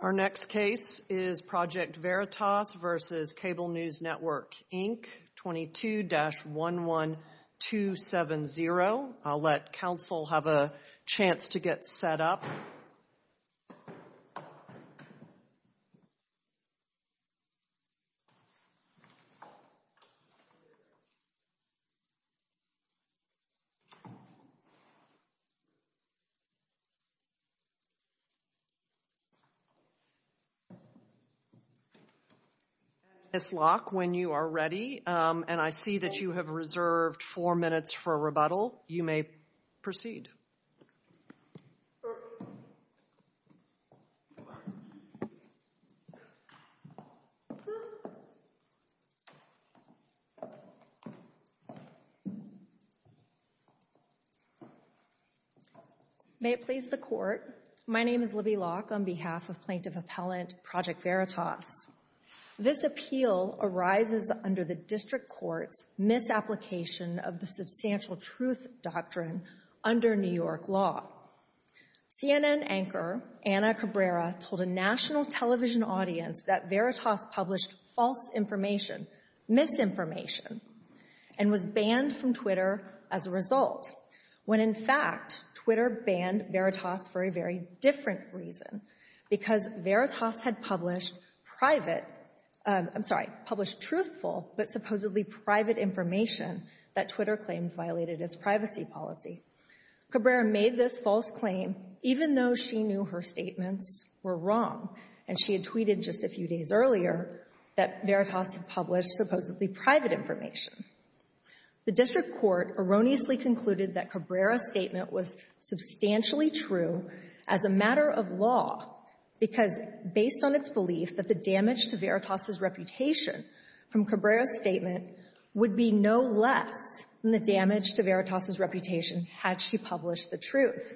Our next case is Project Veritas v. Cable News Network, Inc., 22-11270. I'll let counsel have a chance to get set up. Ms. Locke, when you are ready, and I see that you have reserved four minutes for rebuttal, you may proceed. May it please the Court, my name is Libby Locke on behalf of Plaintiff Appellant Project Veritas. This appeal arises under the District Court's misapplication of the Substantial Truth Doctrine under New York law. CNN anchor Anna Cabrera told a national television audience that Veritas published false information, misinformation, and was banned from Twitter as a result, when in fact, Twitter banned Veritas for a very different reason, because Veritas had published private, I'm sorry, published truthful but violated its privacy policy. Cabrera made this false claim even though she knew her statements were wrong, and she had tweeted just a few days earlier that Veritas had published supposedly private information. The District Court erroneously concluded that Cabrera's statement was substantially true as a matter of law, because based on its belief that the truth was more important than the damage to Veritas' reputation had she published the truth,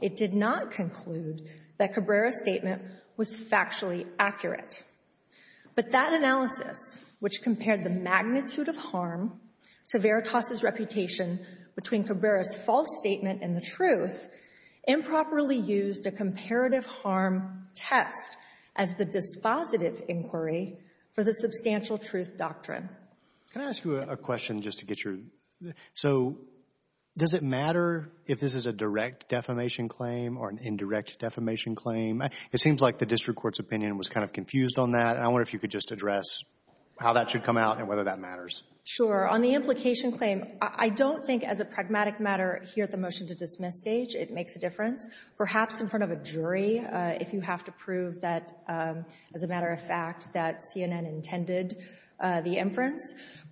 it did not conclude that Cabrera's statement was factually accurate. But that analysis, which compared the magnitude of harm to Veritas' reputation between Cabrera's false statement and the truth, improperly used a comparative harm test as the dispositive inquiry for the Substantial Truth Doctrine. Can I ask you a question just to get your, so does it matter if this is a direct defamation claim or an indirect defamation claim? It seems like the District Court's opinion was kind of confused on that, and I wonder if you could just address how that should come out and whether that matters. Sure. On the implication claim, I don't think as a pragmatic matter here at the motion-to-dismiss stage it makes a difference. Perhaps in front of a jury, if you have to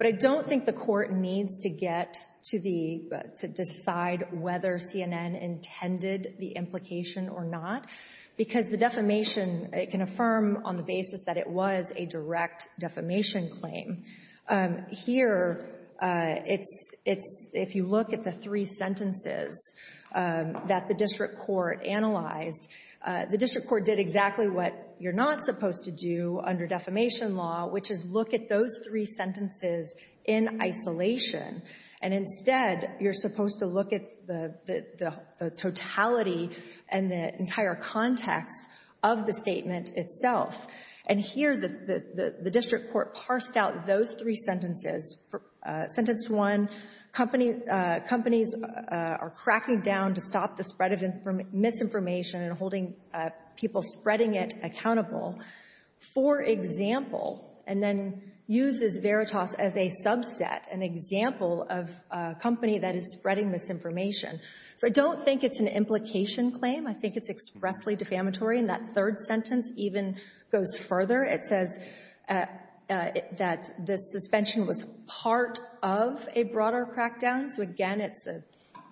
But I don't think the Court needs to get to the, to decide whether CNN intended the implication or not, because the defamation, it can affirm on the basis that it was a direct defamation claim. Here, it's, if you look at the three sentences that the District Court analyzed, the District Court did exactly what you're not supposed to do under defamation law, which is look at those three sentences in isolation. And instead, you're supposed to look at the, the, the totality and the entire context of the statement itself. And here, the, the, the District Court parsed out those three sentences. Sentence one, company, companies are cracking down to stop the For example, and then use this veritas as a subset, an example of a company that is spreading misinformation. So I don't think it's an implication claim. I think it's expressly defamatory. And that third sentence even goes further. It says that the suspension was part of a broader crackdown. So again, it's a,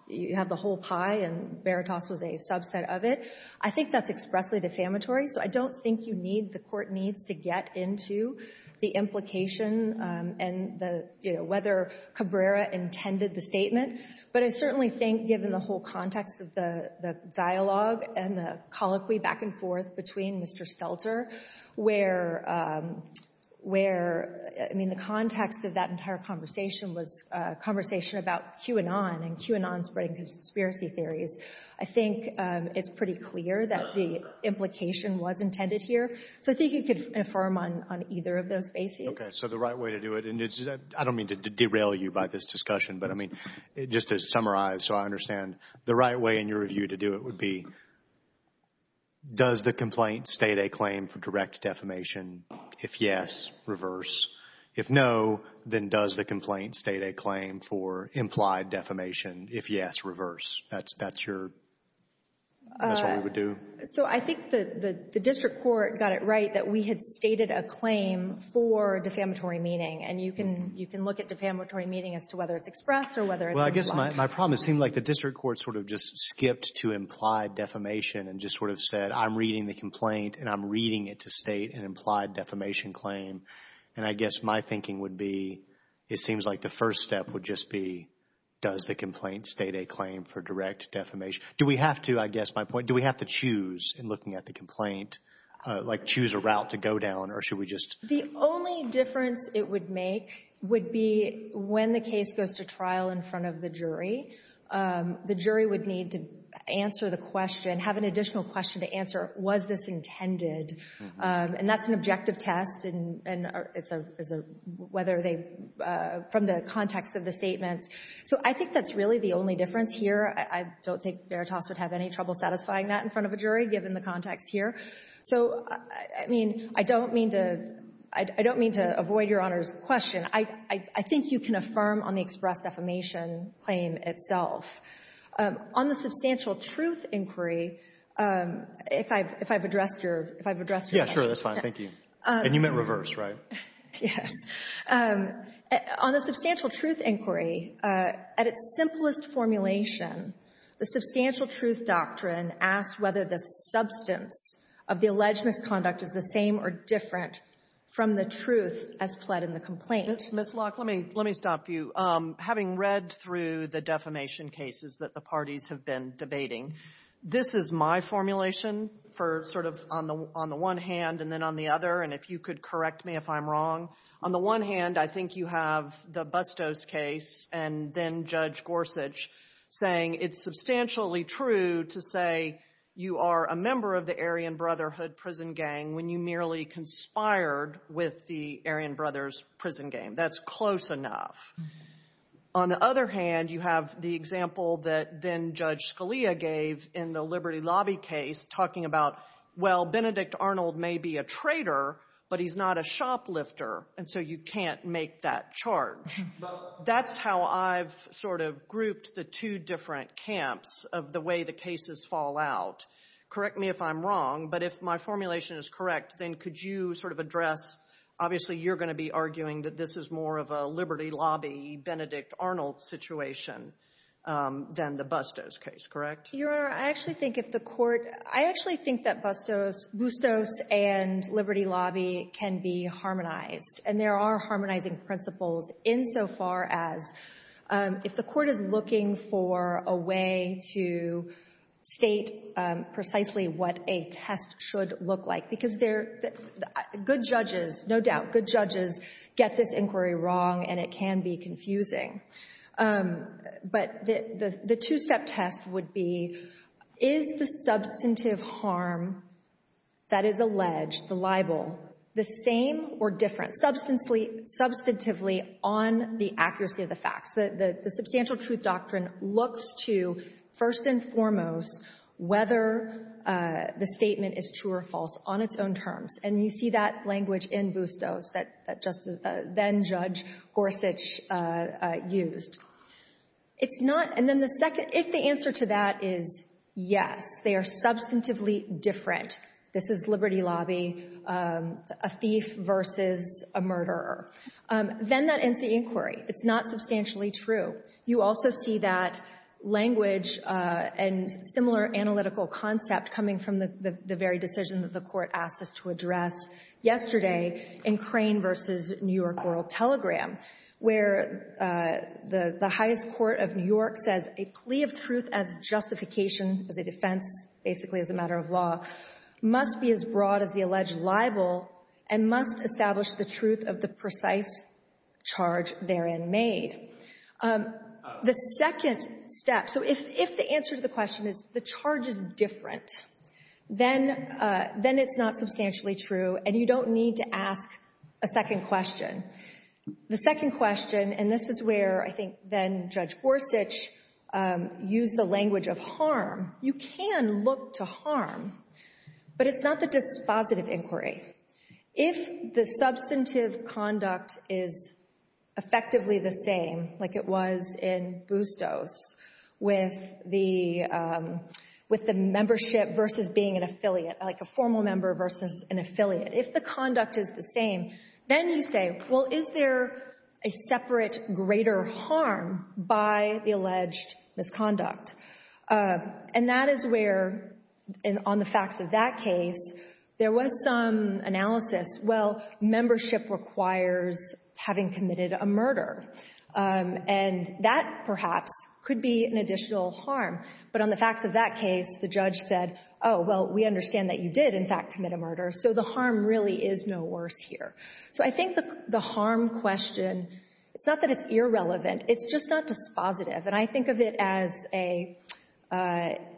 you have the whole pie and veritas was a subset of it. I think that's expressly defamatory. So I don't think you need, the Court needs to get into the implication and the, you know, whether Cabrera intended the statement. But I certainly think, given the whole context of the, the dialogue and the colloquy back and forth between Mr. Stelter, where, where, I mean, the context of that entire conversation was a conversation about QAnon and QAnon spreading conspiracy theories. I think it's pretty clear that the implication was intended here. So I think you could affirm on, on either of those bases. Okay. So the right way to do it, and it's, I don't mean to derail you by this discussion, but I mean, just to summarize so I understand, the right way in your review to do it would be, does the complaint state a claim for direct defamation? If yes, reverse. If no, then does the complaint state a claim for implied defamation? If yes, reverse. That's, that's your, that's what we would So I think the, the district court got it right that we had stated a claim for defamatory meaning. And you can, you can look at defamatory meaning as to whether it's expressed or whether it's implied. Well, I guess my, my problem is, it seems like the district court sort of just skipped to implied defamation and just sort of said, I'm reading the complaint and I'm reading it to state an implied defamation claim. And I guess my thinking would be, it seems like the first step would just be, does the complaint state a claim for direct defamation? Do we have to, I guess my point, do we have to choose in looking at the complaint, like choose a route to go down, or should we just? The only difference it would make would be when the case goes to trial in front of the jury. The jury would need to answer the question, have an additional question to answer, was this intended? And that's an objective test and, and it's a, it's a, whether they, from the context of the statements. So I think that's really the only difference here. I, I don't think Veritas would have any trouble satisfying that in front of a jury, given the context here. So, I mean, I don't mean to, I don't mean to avoid Your Honor's question. I, I think you can affirm on the expressed defamation claim itself. On the substantial truth inquiry, if I've, if I've addressed your, if I've addressed your question. Yes, sure. That's fine. Thank you. And you meant reverse, right? Yes. On the substantial truth inquiry, at its simplest formulation, the substantial truth doctrine asks whether the substance of the alleged misconduct is the same or different from the truth as pled in the complaint. Ms. Locke, let me, let me stop you. Having read through the defamation cases that the parties have been debating, this is my formulation for sort of on the, on the one hand and then on the other, and if you could correct me if I'm wrong. On the one hand, I think you have the Bustos case and then Judge Gorsuch saying it's substantially true to say you are a member of the Aryan Brotherhood prison gang when you merely conspired with the Aryan Brothers prison gang. That's close enough. On the other hand, you have the example that then Judge Scalia gave in the Liberty Lobby case talking about, well, Benedict Arnold may be a traitor, but he's not a shoplifter, and so you can't make that charge. That's how I've sort of been at camps of the way the cases fall out. Correct me if I'm wrong, but if my formulation is correct, then could you sort of address, obviously, you're going to be arguing that this is more of a Liberty Lobby, Benedict Arnold situation than the Bustos case, correct? Your Honor, I actually think if the Court, I actually think that Bustos, Bustos and Liberty Lobby can be harmonized, and there are harmonizing principles insofar as if the Court is looking for a way to state precisely what a test should look like, because good judges, no doubt, good judges get this inquiry wrong, and it can be confusing. But the two-step test would be, is the substantive harm that is alleged, the libel, the same or different, substantively on the accuracy of the facts? The substantial truth doctrine looks to, first and foremost, whether the statement is true or false on its own terms, and you see that language in Bustos that then-Judge Gorsuch used. It's not, and then the second, if the answer to that is yes, they are substantively different. This is Liberty Lobby, a thief versus a murderer. Then that ends the inquiry. It's not substantially true. You also see that language and similar analytical concept coming from the very decision that the Court asked us to address yesterday in Crane versus New York World Telegram, where the highest court of New York says a plea of truth as justification, as a defense, basically as a matter of law, must be as broad as the alleged libel and must establish the truth of the precise charge therein made. The second step — so if the answer to the question is the charge is different, then it's not substantially true, and you don't need to ask a second question. The second question, and this is where I think then-Judge Gorsuch used the language of harm. You can look to harm, but it's not the dispositive inquiry. If the substantive conduct is effectively the same, like it was in Bustos with the membership versus being an affiliate, like a formal member versus an affiliate, if the conduct is the same, well, is there a separate greater harm by the alleged misconduct? And that is where, on the facts of that case, there was some analysis. Well, membership requires having committed a murder, and that perhaps could be an additional harm. But on the facts of that case, the judge said, oh, well, we understand that you did, in fact, commit a harm. So the harm question, it's not that it's irrelevant. It's just not dispositive. And I think of it as a,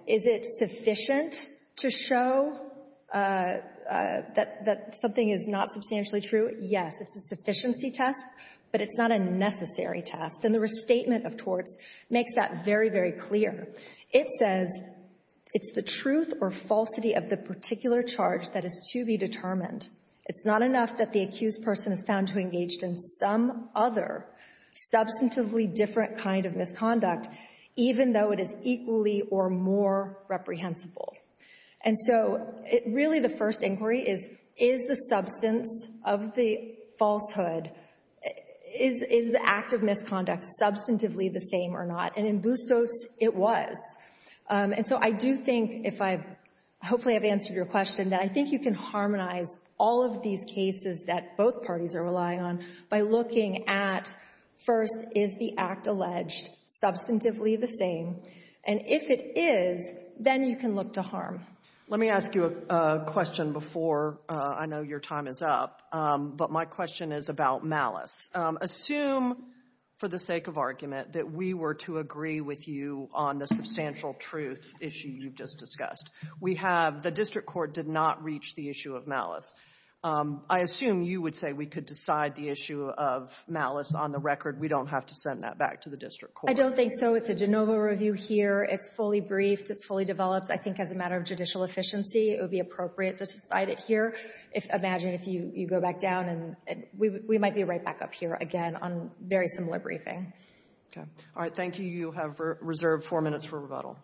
is it sufficient to show that something is not substantially true? Yes, it's a sufficiency test, but it's not a necessary test. And the restatement of torts makes that very, very clear. It says it's the truth or falsity of the particular charge that is to be determined. It's not enough that the accused person is found to have engaged in some other substantively different kind of misconduct, even though it is equally or more reprehensible. And so really the first inquiry is, is the substance of the falsehood, is the act of misconduct substantively the same or not? And in Bustos, it was. And so I do think if I've, hopefully I've answered your question, that I think you can harmonize all of these cases that both parties are relying on by looking at, first, is the act alleged substantively the same? And if it is, then you can look to harm. Let me ask you a question before, I know your time is up, but my question is about malice. Assume, for the sake of argument, that we were to agree with you on the substantial truth issue you've just discussed. We have, the district court did not reach the issue of malice. I assume you would say we could decide the issue of malice on the record. We don't have to send that back to the district court. I don't think so. It's a de novo review here. It's fully briefed. It's fully developed. I think as a matter of judicial efficiency, it would be appropriate to decide it here. Imagine if you go back down and we might be right back up here again on very similar briefing. Okay. All right. Thank you. You have reserved four minutes for rebuttal.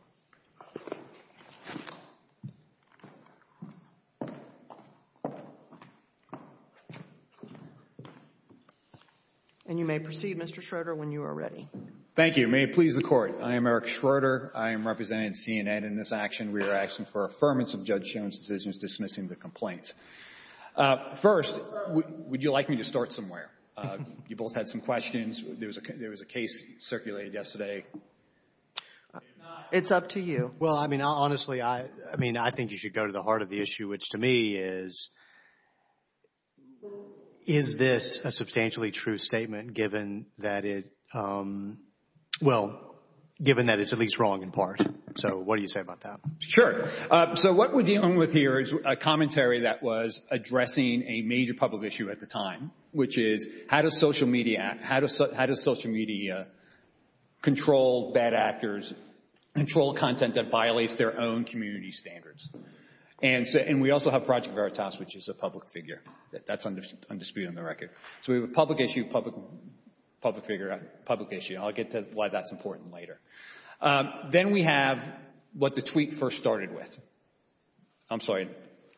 And you may proceed, Mr. Schroeder, when you are ready. Thank you. May it please the Court. I am Eric Schroeder. I am representing C&N in this action. We are asking for affirmance of Judge Jones' decision dismissing the complaint. First, would you like me to start somewhere? You both had some questions. There was a case circulated yesterday. It's up to you. Well, I mean, honestly, I mean, I think you should go to the heart of the issue, which to me is, is this a substantially true statement given that it, well, given that it's at least wrong in part? So what do you say about that? Sure. So what we're dealing with here is a commentary that was addressing a major public issue at the time, which is how does social media, how does social media control bad actors, control content that violates their own community standards? And we also have Project Veritas, which is a public figure. That's undisputed on the record. So we have a public issue, public figure, public issue. I'll get to why that's important later. Then we have what the tweet first started with. I'm sorry,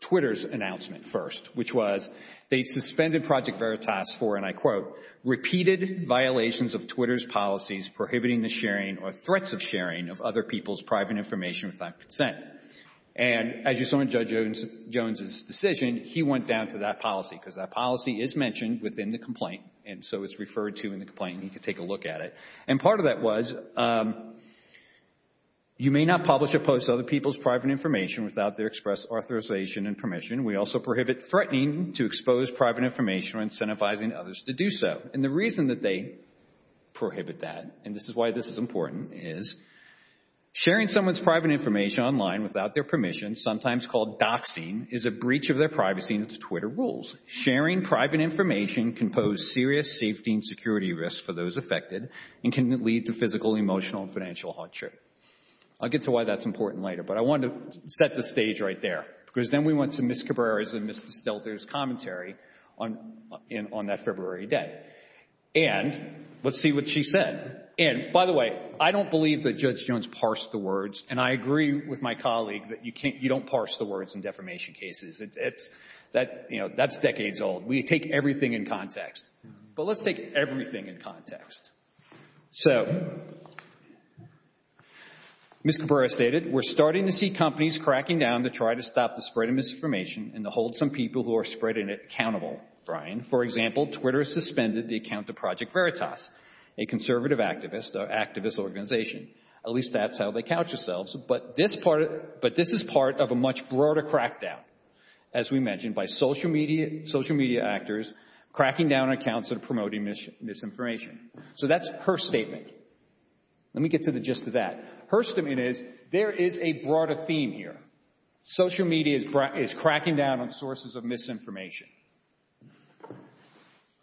Twitter's announcement first, which was they suspended Project Veritas for, and I quote, repeated violations of Twitter's policies prohibiting the sharing or threats of sharing of other people's private information without consent. And as you saw in Judge Jones' decision, he went down to that policy because that policy is mentioned within the complaint. And so it's referred to in the complaint. You can take a look at it. And part of that was you may not publish or post other people's private information without their express authorization and permission. We also prohibit threatening to expose private information or incentivizing others to do so. And the reason that they prohibit that, and this is why this is important, is sharing someone's private information online without their permission, sometimes called doxing, is a breach of their privacy and Twitter rules. Sharing private information can pose serious safety and security risks for those affected and can lead to physical, emotional, and financial hardship. I'll get to why that's important later, but I wanted to set the stage right there because then we went to Ms. Cabrera's and Mr. Stelter's commentary on that February day. And let's see what she said. And by the way, I don't believe that Judge Jones parsed the words, and I agree with my colleague that you don't parse the words in defamation cases. That's decades old. We take everything in context. But let's take everything in context. So, Ms. Cabrera stated, we're starting to see companies cracking down to try to stop the spread of misinformation and to hold some people who are spreading it accountable, Brian. For example, Twitter suspended the account of Project Veritas, a conservative activist organization. At least that's how they couch themselves, but this is part of a much broader crackdown, as we mentioned, by social media actors cracking down on accounts and promoting misinformation. So, that's her statement. Let me get to the gist of that. Her statement is, there is a broader theme here. Social media is cracking down on sources of misinformation.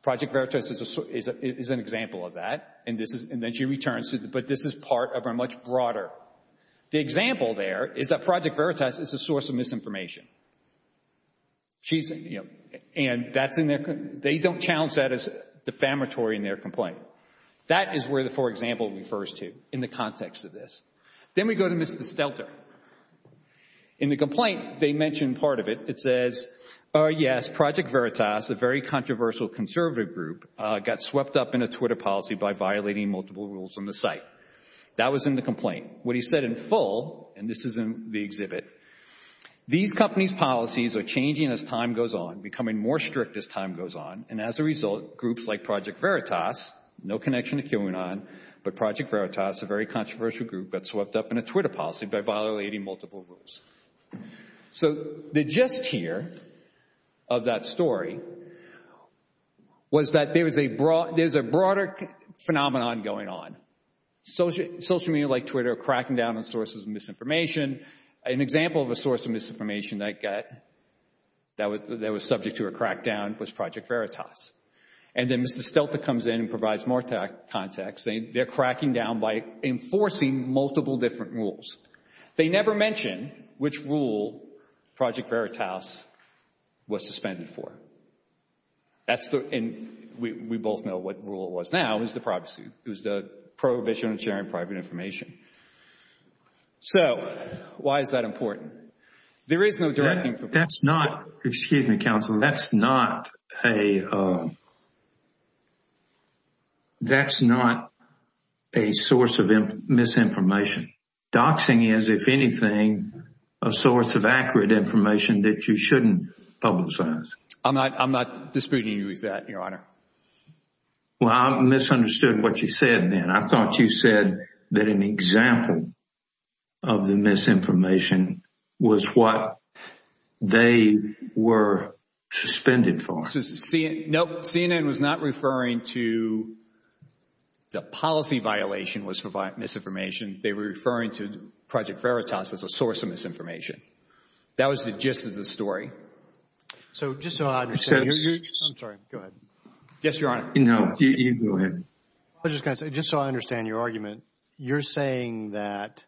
Project Veritas is an example of that, and then she returns, but this is part of a much broader. The example there is that Project Veritas is a source of misinformation. She's, you know, and that's in their, they don't challenge that as defamatory in their complaint. That is where the, for example, refers to in the context of this. Then we go to Mr. Stelter. In the complaint, they mention part of it. It says, oh yes, Project Veritas, a very controversial conservative group, got swept up in a Twitter policy by violating multiple rules on the site. That was in the complaint. What he said in full, and this is in the exhibit, these companies' policies are changing as time goes on, becoming more strict as time goes on, and as a result, groups like Project Veritas, no connection to QAnon, but Project Veritas, a very controversial group, got swept up in a Twitter policy by violating multiple rules. So, the gist here of that story was that there's a broader phenomenon going on. Social media like Twitter are cracking down on sources of misinformation. An example of a source of misinformation that was subject to a crackdown was Project Veritas. And then Mr. Stelter comes in and provides more context. They're cracking down by enforcing multiple different rules. They never mention which rule Project Veritas was suspended for. That's the, and we both know what rule it was now, it was the privacy, it was the prohibition of sharing private information. So, why is that important? There is no direct information. That's not, excuse me, Counselor, that's not a source of misinformation. Doxing is, if anything, a source of accurate information that you shouldn't publicize. I'm not disputing you with that, Your Honor. Well, I misunderstood what you said then. I thought you said that an example of the misinformation was what they were suspended for. Nope. CNN was not referring to the policy violation was misinformation. They were referring to Project Veritas as a source of misinformation. That was the gist of the story. So, just so I understand, you're saying that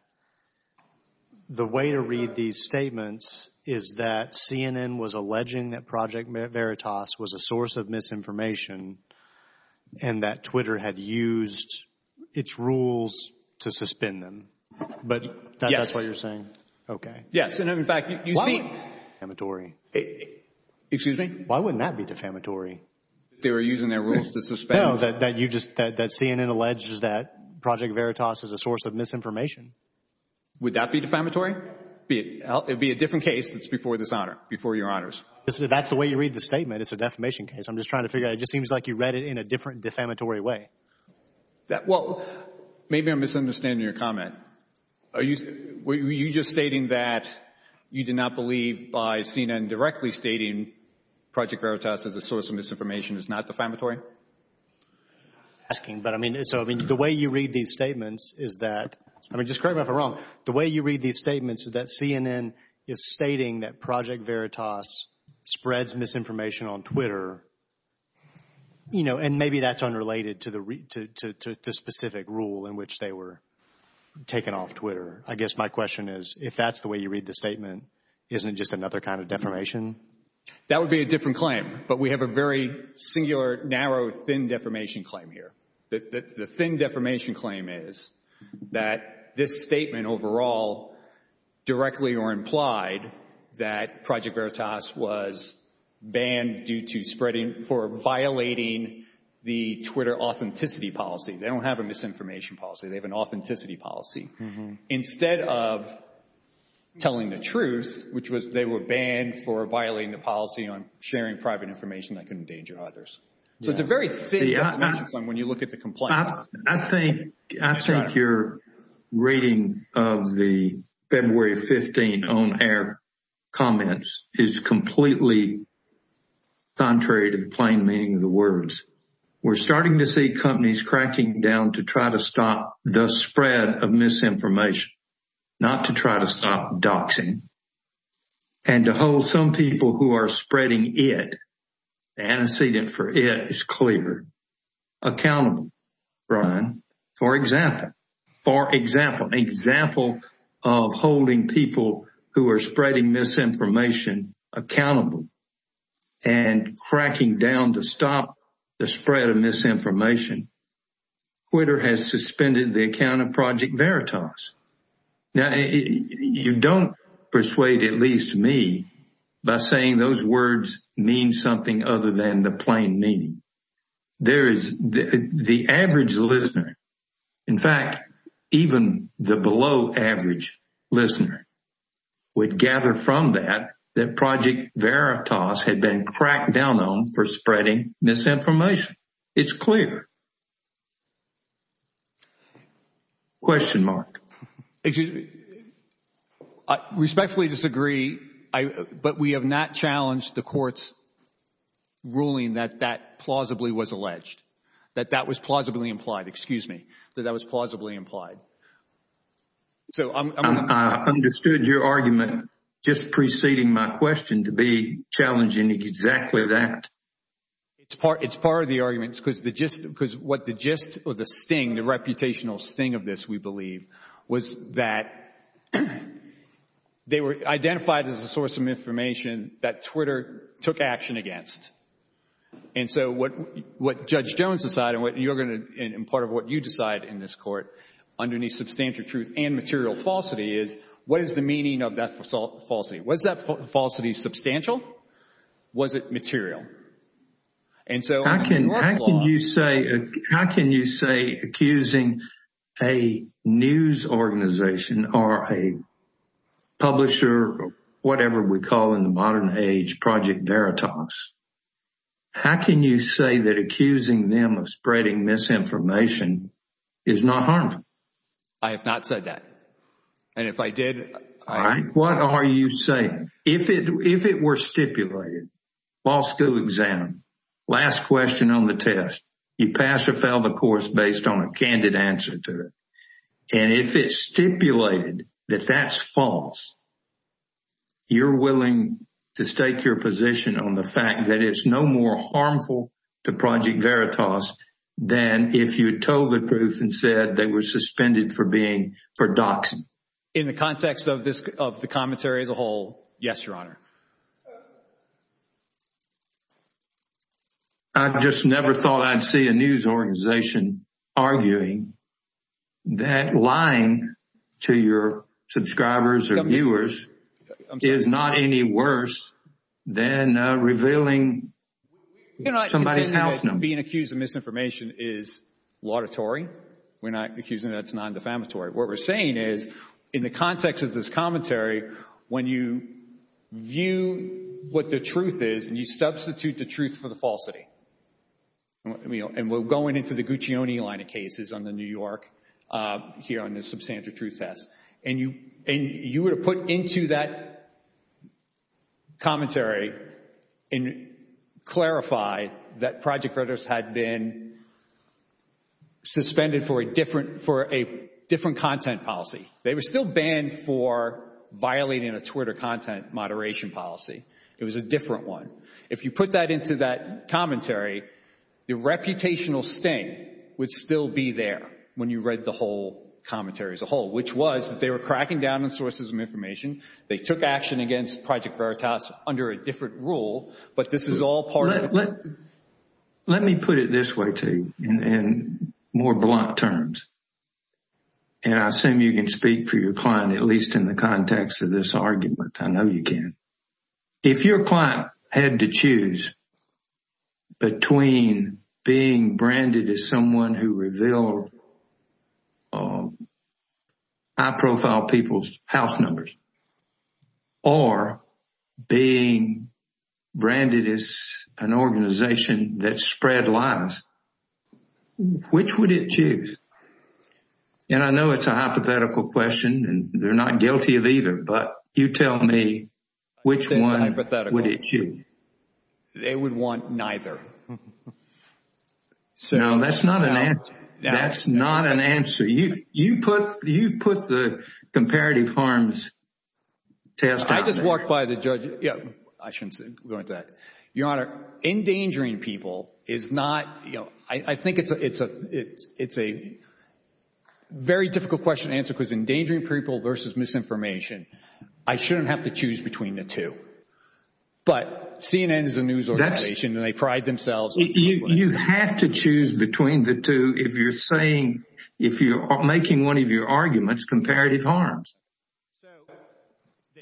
the way to read these statements is that CNN was alleging that Project Veritas was a source of misinformation and that Twitter had used its rules to suspend them. But that's what you're saying? Okay. Yes. And, in fact, you see... Defamatory. Excuse me? Why wouldn't that be defamatory? They were using their rules to suspend... No, that you just, that CNN alleges that Project Veritas is a source of misinformation. Would that be defamatory? It would be a different case that's before this Honor, before Your Honors. That's the way you read the statement. It's a defamation case. I'm just trying to figure out, it just seems like you read it in a different defamatory way. That, well, maybe I'm misunderstanding your comment. Are you, were you just stating that you do not believe by CNN directly stating Project Veritas is a source of misinformation is not defamatory? Asking, but I mean, so, I mean, the way you read these statements is that, I mean, just correct me if I'm wrong, the way you read these statements is that CNN is stating that Project Veritas spreads misinformation on Twitter, you know, and maybe that's unrelated to the specific rule in which they were taken off Twitter. I guess my question is, if that's the way you read the statement, isn't it just another kind of defamation? That would be a different claim, but we have a very singular, narrow, thin defamation claim here. The thin defamation claim is that this statement overall directly or implied that Project Veritas was banned due to spreading, for violating the Twitter authenticity policy. They don't have a misinformation policy, they have an authenticity policy. Instead of telling the truth, which was they were banned for violating the policy on sharing private information that could endanger others. So it's a very thick defamation claim when you look at the complaint. I think your reading of the February 15 on-air comments is completely contrary to the plain meaning of the words. We're starting to see companies cracking down to try to stop the spread of misinformation, not to try to stop doxing. And to hold some people who are spreading it, the antecedent for it is clear, accountable. Brian, for example, for example, example of holding people who are spreading misinformation accountable and cracking down to stop the spread of misinformation, Twitter has suspended the account of Project Veritas. Now, you don't persuade at least me by saying those words mean something other than the plain meaning. There is the average listener, in fact, even the below average listener would gather from that, that Project Veritas had been cracked down on for spreading misinformation. It's clear. Question mark. Excuse me. I respectfully disagree. But we have not challenged the court's ruling that that plausibly was alleged, that that was plausibly implied. Excuse me. That that was plausibly implied. So I'm. I understood your argument just preceding my question to be challenging exactly that. It's part of the argument because the gist, because what the gist or the sting, the reputational sting of this, we believe, was that they were identified as a source of information that Twitter took action against. And so what what Judge Jones decided and what you're going to and part of what you decide in this court underneath substantial truth and material falsity is what is the meaning of that falsity? Was that falsity substantial? Was it material? And so I can. How can you say, how can you say accusing a news organization or a publisher or whatever we call in the modern age Project Veritas? How can you say that accusing them of spreading misinformation is not harmful? I have not said that. And if I did. What are you saying? If it if it were stipulated false to exam last question on the test, you pass or fail the course based on a candid answer to it. And if it's stipulated that that's false. You're willing to stake your position on the fact that it's no more harmful to Project Veritas than if you told the truth and said they were suspended for being for doxing. In the context of this of the commentary as a whole. Yes, Your Honor. I just never thought I'd see a news organization arguing that lying to your subscribers or viewers is not any worse than revealing somebody's house number. Being accused of misinformation is laudatory. We're not accusing that it's non defamatory. What we're saying is in the context of this commentary, when you view what the truth is and you substitute the truth for the falsity. And we're going into the Guccione line of cases on the New York here on the Substantive Truth Test. And you and you were to put into that commentary and clarify that Project Veritas had been suspended for a different for a different content policy. They were still banned for violating a Twitter content moderation policy. It was a different one. If you put that into that commentary, the reputational sting would still be there when you read the whole commentary as a whole, which was that they were cracking down on sources of information. They took action against Project Veritas under a different rule. But this is all part. Let me put it this way, too, in more blunt terms. And I assume you can speak for your client, at least in the context of this argument. I know you can. If your client had to choose between being branded as someone who revealed high profile people's house numbers or being branded as an organization that spread lies, which would it choose? And I know it's a hypothetical question and they're not guilty of either. But you tell me, which one would it choose? They would want neither. So that's not an answer. That's not an answer. You put the comparative harms test. I just walked by the judge. I shouldn't go into that. Your Honor, endangering people is not, I think it's a very difficult question to answer because endangering people versus misinformation, I shouldn't have to choose between the two. But CNN is a news organization and they pride themselves. You have to choose between the two if you're making one of your arguments comparative harms.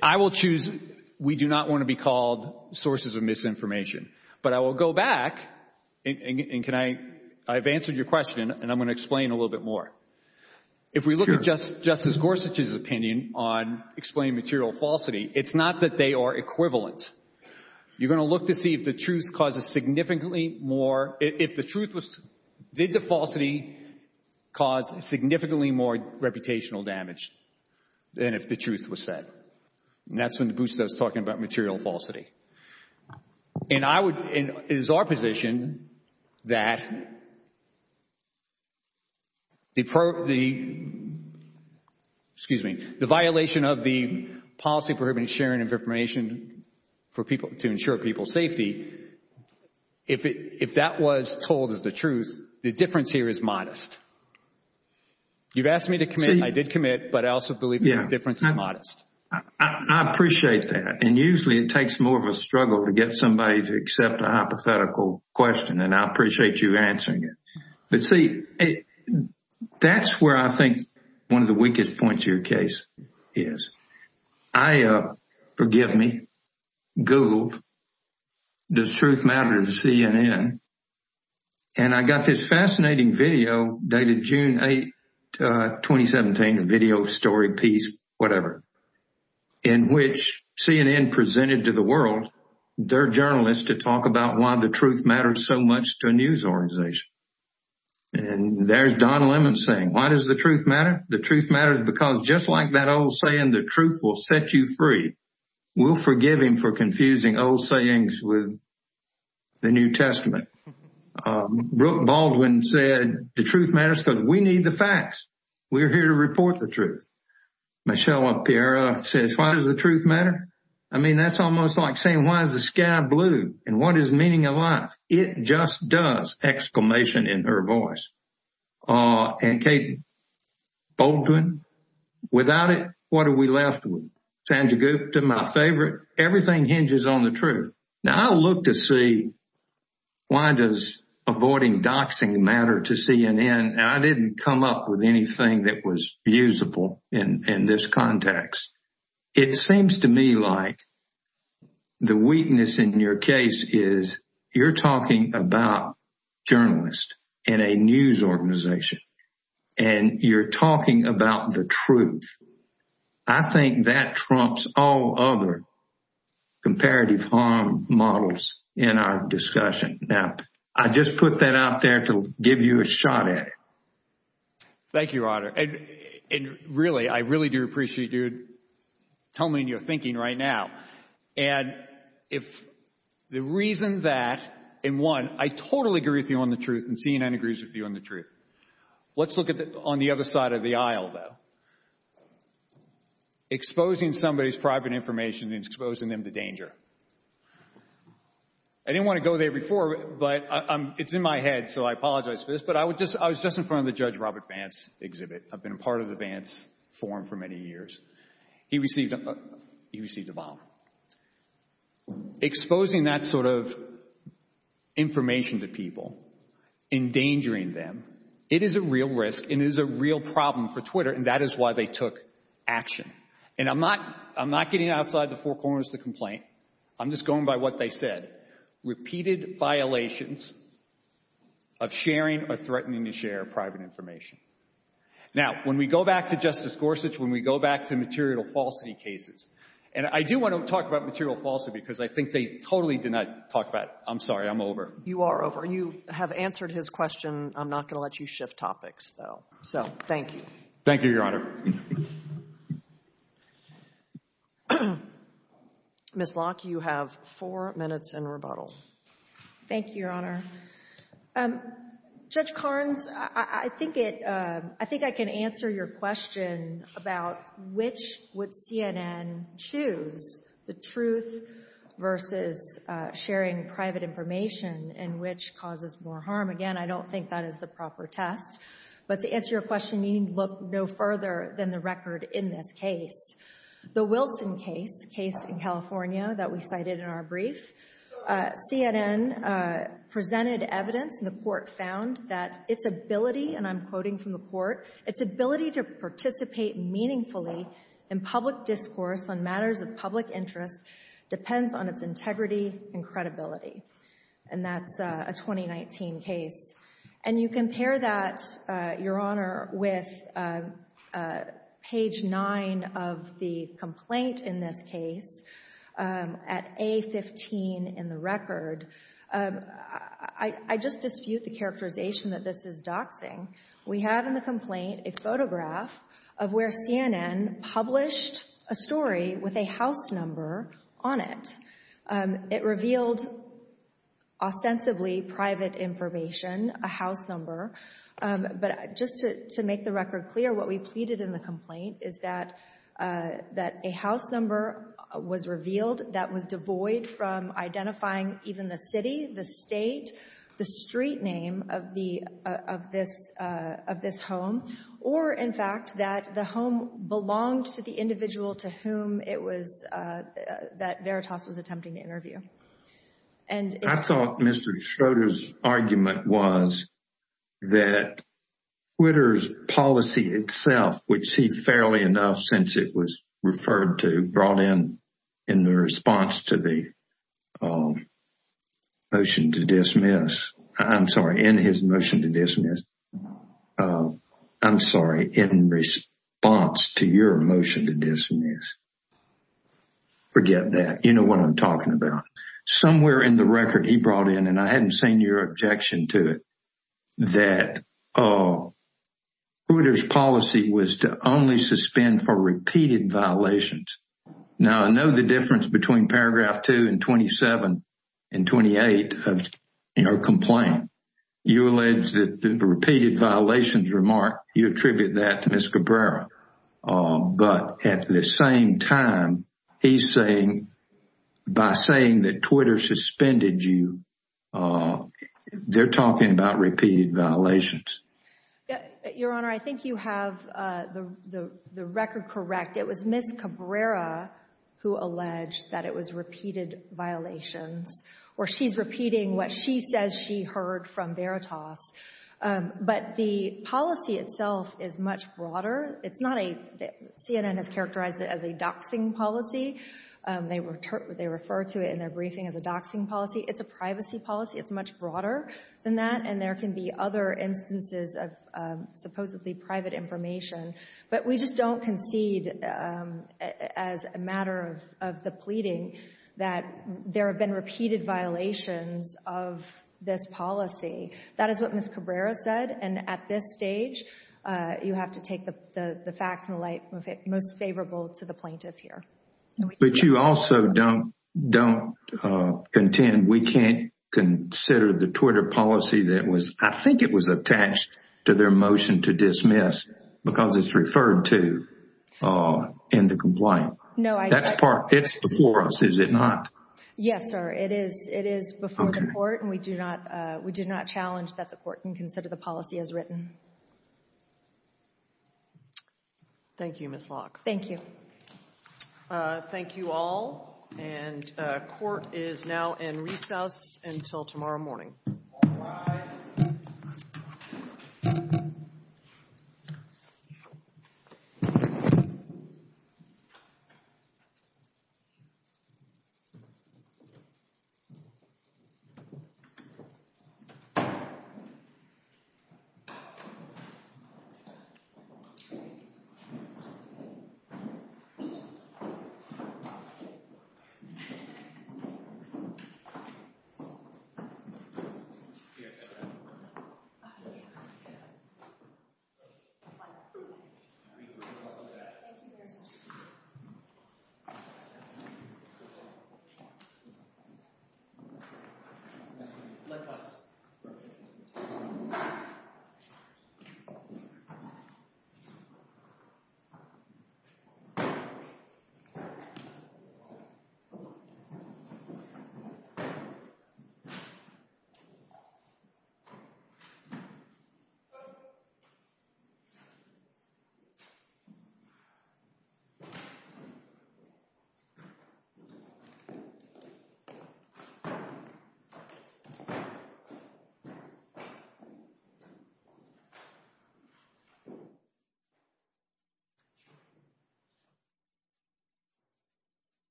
I will choose. We do not want to be called sources of misinformation. But I will go back and I've answered your question and I'm going to explain a little bit more. If we look at Justice Gorsuch's opinion on explaining material falsity, it's not that they are equivalent. You're going to look to see if the truth causes significantly more, if the truth was, did the falsity cause significantly more reputational damage than if the truth was said? And that's when the Boosta is talking about material falsity. And I would, it is our position that the, excuse me, the violation of the policy prohibiting sharing of information to ensure people's safety, if that was told as the truth, the difference here is modest. You've asked me to commit. I did commit. But I also believe the difference is modest. I appreciate that. And usually it takes more of a struggle to get somebody to accept a hypothetical question. And I appreciate you answering it. But see, that's where I think one of the weakest points of your case is. I, forgive me, Googled, does truth matter to CNN? And I got this fascinating video dated June 8, 2017, a video story piece, whatever, in which CNN presented to the world, their journalists to talk about why the truth matters so much to a news organization. And there's Don Lemon saying, why does the truth matter? The truth matters because just like that old saying, the truth will set you free. We'll forgive him for confusing old sayings with the New Testament. Brooke Baldwin said, the truth matters because we need the facts. We're here to report the truth. Michelle Appiera says, why does the truth matter? I mean, that's almost like saying, why is the sky blue? And what is meaning of life? It just does! Exclamation in her voice. And Kate Baldwin, without it, what are we left with? Sandra Gupta, my favorite. Everything hinges on the truth. Now, I look to see, why does avoiding doxing matter to CNN? And I didn't come up with anything that was usable in this context. It seems to me like the weakness in your case is you're talking about journalists in a news organization and you're talking about the truth. I think that trumps all other comparative harm models in our discussion. Now, I just put that out there to give you a shot at it. Thank you, Roderick. And really, I really do appreciate you telling me what you're thinking right now. And if the reason that, in one, I totally agree with you on the truth, and CNN agrees with you on the truth. Let's look at it on the other side of the aisle, though. Exposing somebody's private information and exposing them to danger. I didn't want to go there before, but it's in my head, so I apologize for this. But I was just in front of the Judge Robert Vance exhibit. I've been a part of the Vance forum for many years. He received a bomb. Exposing that sort of information to people, endangering them, it is a real risk. It is a real problem for Twitter, and that is why they took action. And I'm not getting outside the four corners to complain. I'm just going by what they said. Repeated violations of sharing or threatening to share private information. Now, when we go back to Justice Gorsuch, when we go back to material falsity cases, and I do want to talk about material falsity, because I think they totally did not talk about it. I'm sorry. I'm over. You are over. You have answered his question. I'm not going to let you shift topics, though. So, thank you. Thank you, Your Honor. Ms. Locke, you have four minutes in rebuttal. Thank you, Your Honor. Judge Carnes, I think I can answer your question about which would CNN choose, the truth versus sharing private information, and which causes more harm. Again, I don't think that is the proper test. But to answer your question, you need to look no further than the record in this case. The Wilson case, case in California that we cited in our brief, CNN presented evidence, and the court found that its ability, and I'm quoting from the court, its ability to participate meaningfully in public discourse on matters of public interest depends on its integrity and credibility. And that's a 2019 case. And you compare that, Your Honor, with page 9 of the complaint in this case at A15 in the record, I just dispute the characterization that this is doxing. We have in the complaint a photograph of where CNN published a story with a house number on it. It revealed ostensibly private information, a house number. But just to make the record clear, what we pleaded in the complaint is that a house number was revealed that was devoid from identifying even the city, the state, the street name of this home, or in fact, that the home belonged to the individual to whom that Veritas was attempting to interview. I thought Mr. Schroeder's argument was that Twitter's policy itself would see fairly enough since it was referred to, brought in in the response to the motion to dismiss. I'm sorry, in his motion to dismiss. I'm sorry, in response to your motion to dismiss. Forget that. You know what I'm talking about. Somewhere in the record he brought in, and I hadn't seen your objection to it, that Twitter's policy was to only suspend for repeated violations. Now, I know the difference between paragraph 2 and 27 and 28 of your complaint. You alleged that the repeated violations remark, you attribute that to Ms. Cabrera. But at the same time, he's saying, by saying that Twitter suspended you, oh, they're talking about repeated violations. Your Honor, I think you have the record correct. It was Ms. Cabrera who alleged that it was repeated violations, or she's repeating what she says she heard from Veritas. But the policy itself is much broader. It's not a, CNN has characterized it as a doxing policy. They refer to it in their briefing as a doxing policy. It's a privacy policy. It's much broader than that. And there can be other instances of supposedly private information. But we just don't concede, as a matter of the pleading, that there have been repeated violations of this policy. That is what Ms. Cabrera said. And at this stage, you have to take the facts and the light, most favorable to the plaintiff here. But you also don't contend we can't consider the Twitter policy that was, I think it was attached to their motion to dismiss, because it's referred to in the complaint. No. That's part, it's before us, is it not? Yes, sir. It is before the court. And we do not challenge that the court can consider the policy as written. Thank you, Ms. Locke. Thank you. Thank you all. And court is now in recess until tomorrow morning.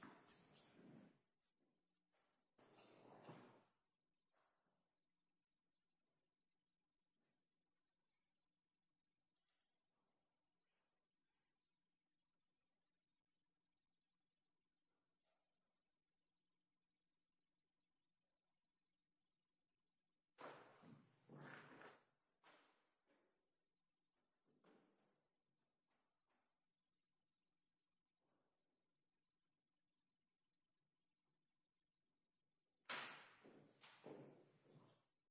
Thank you.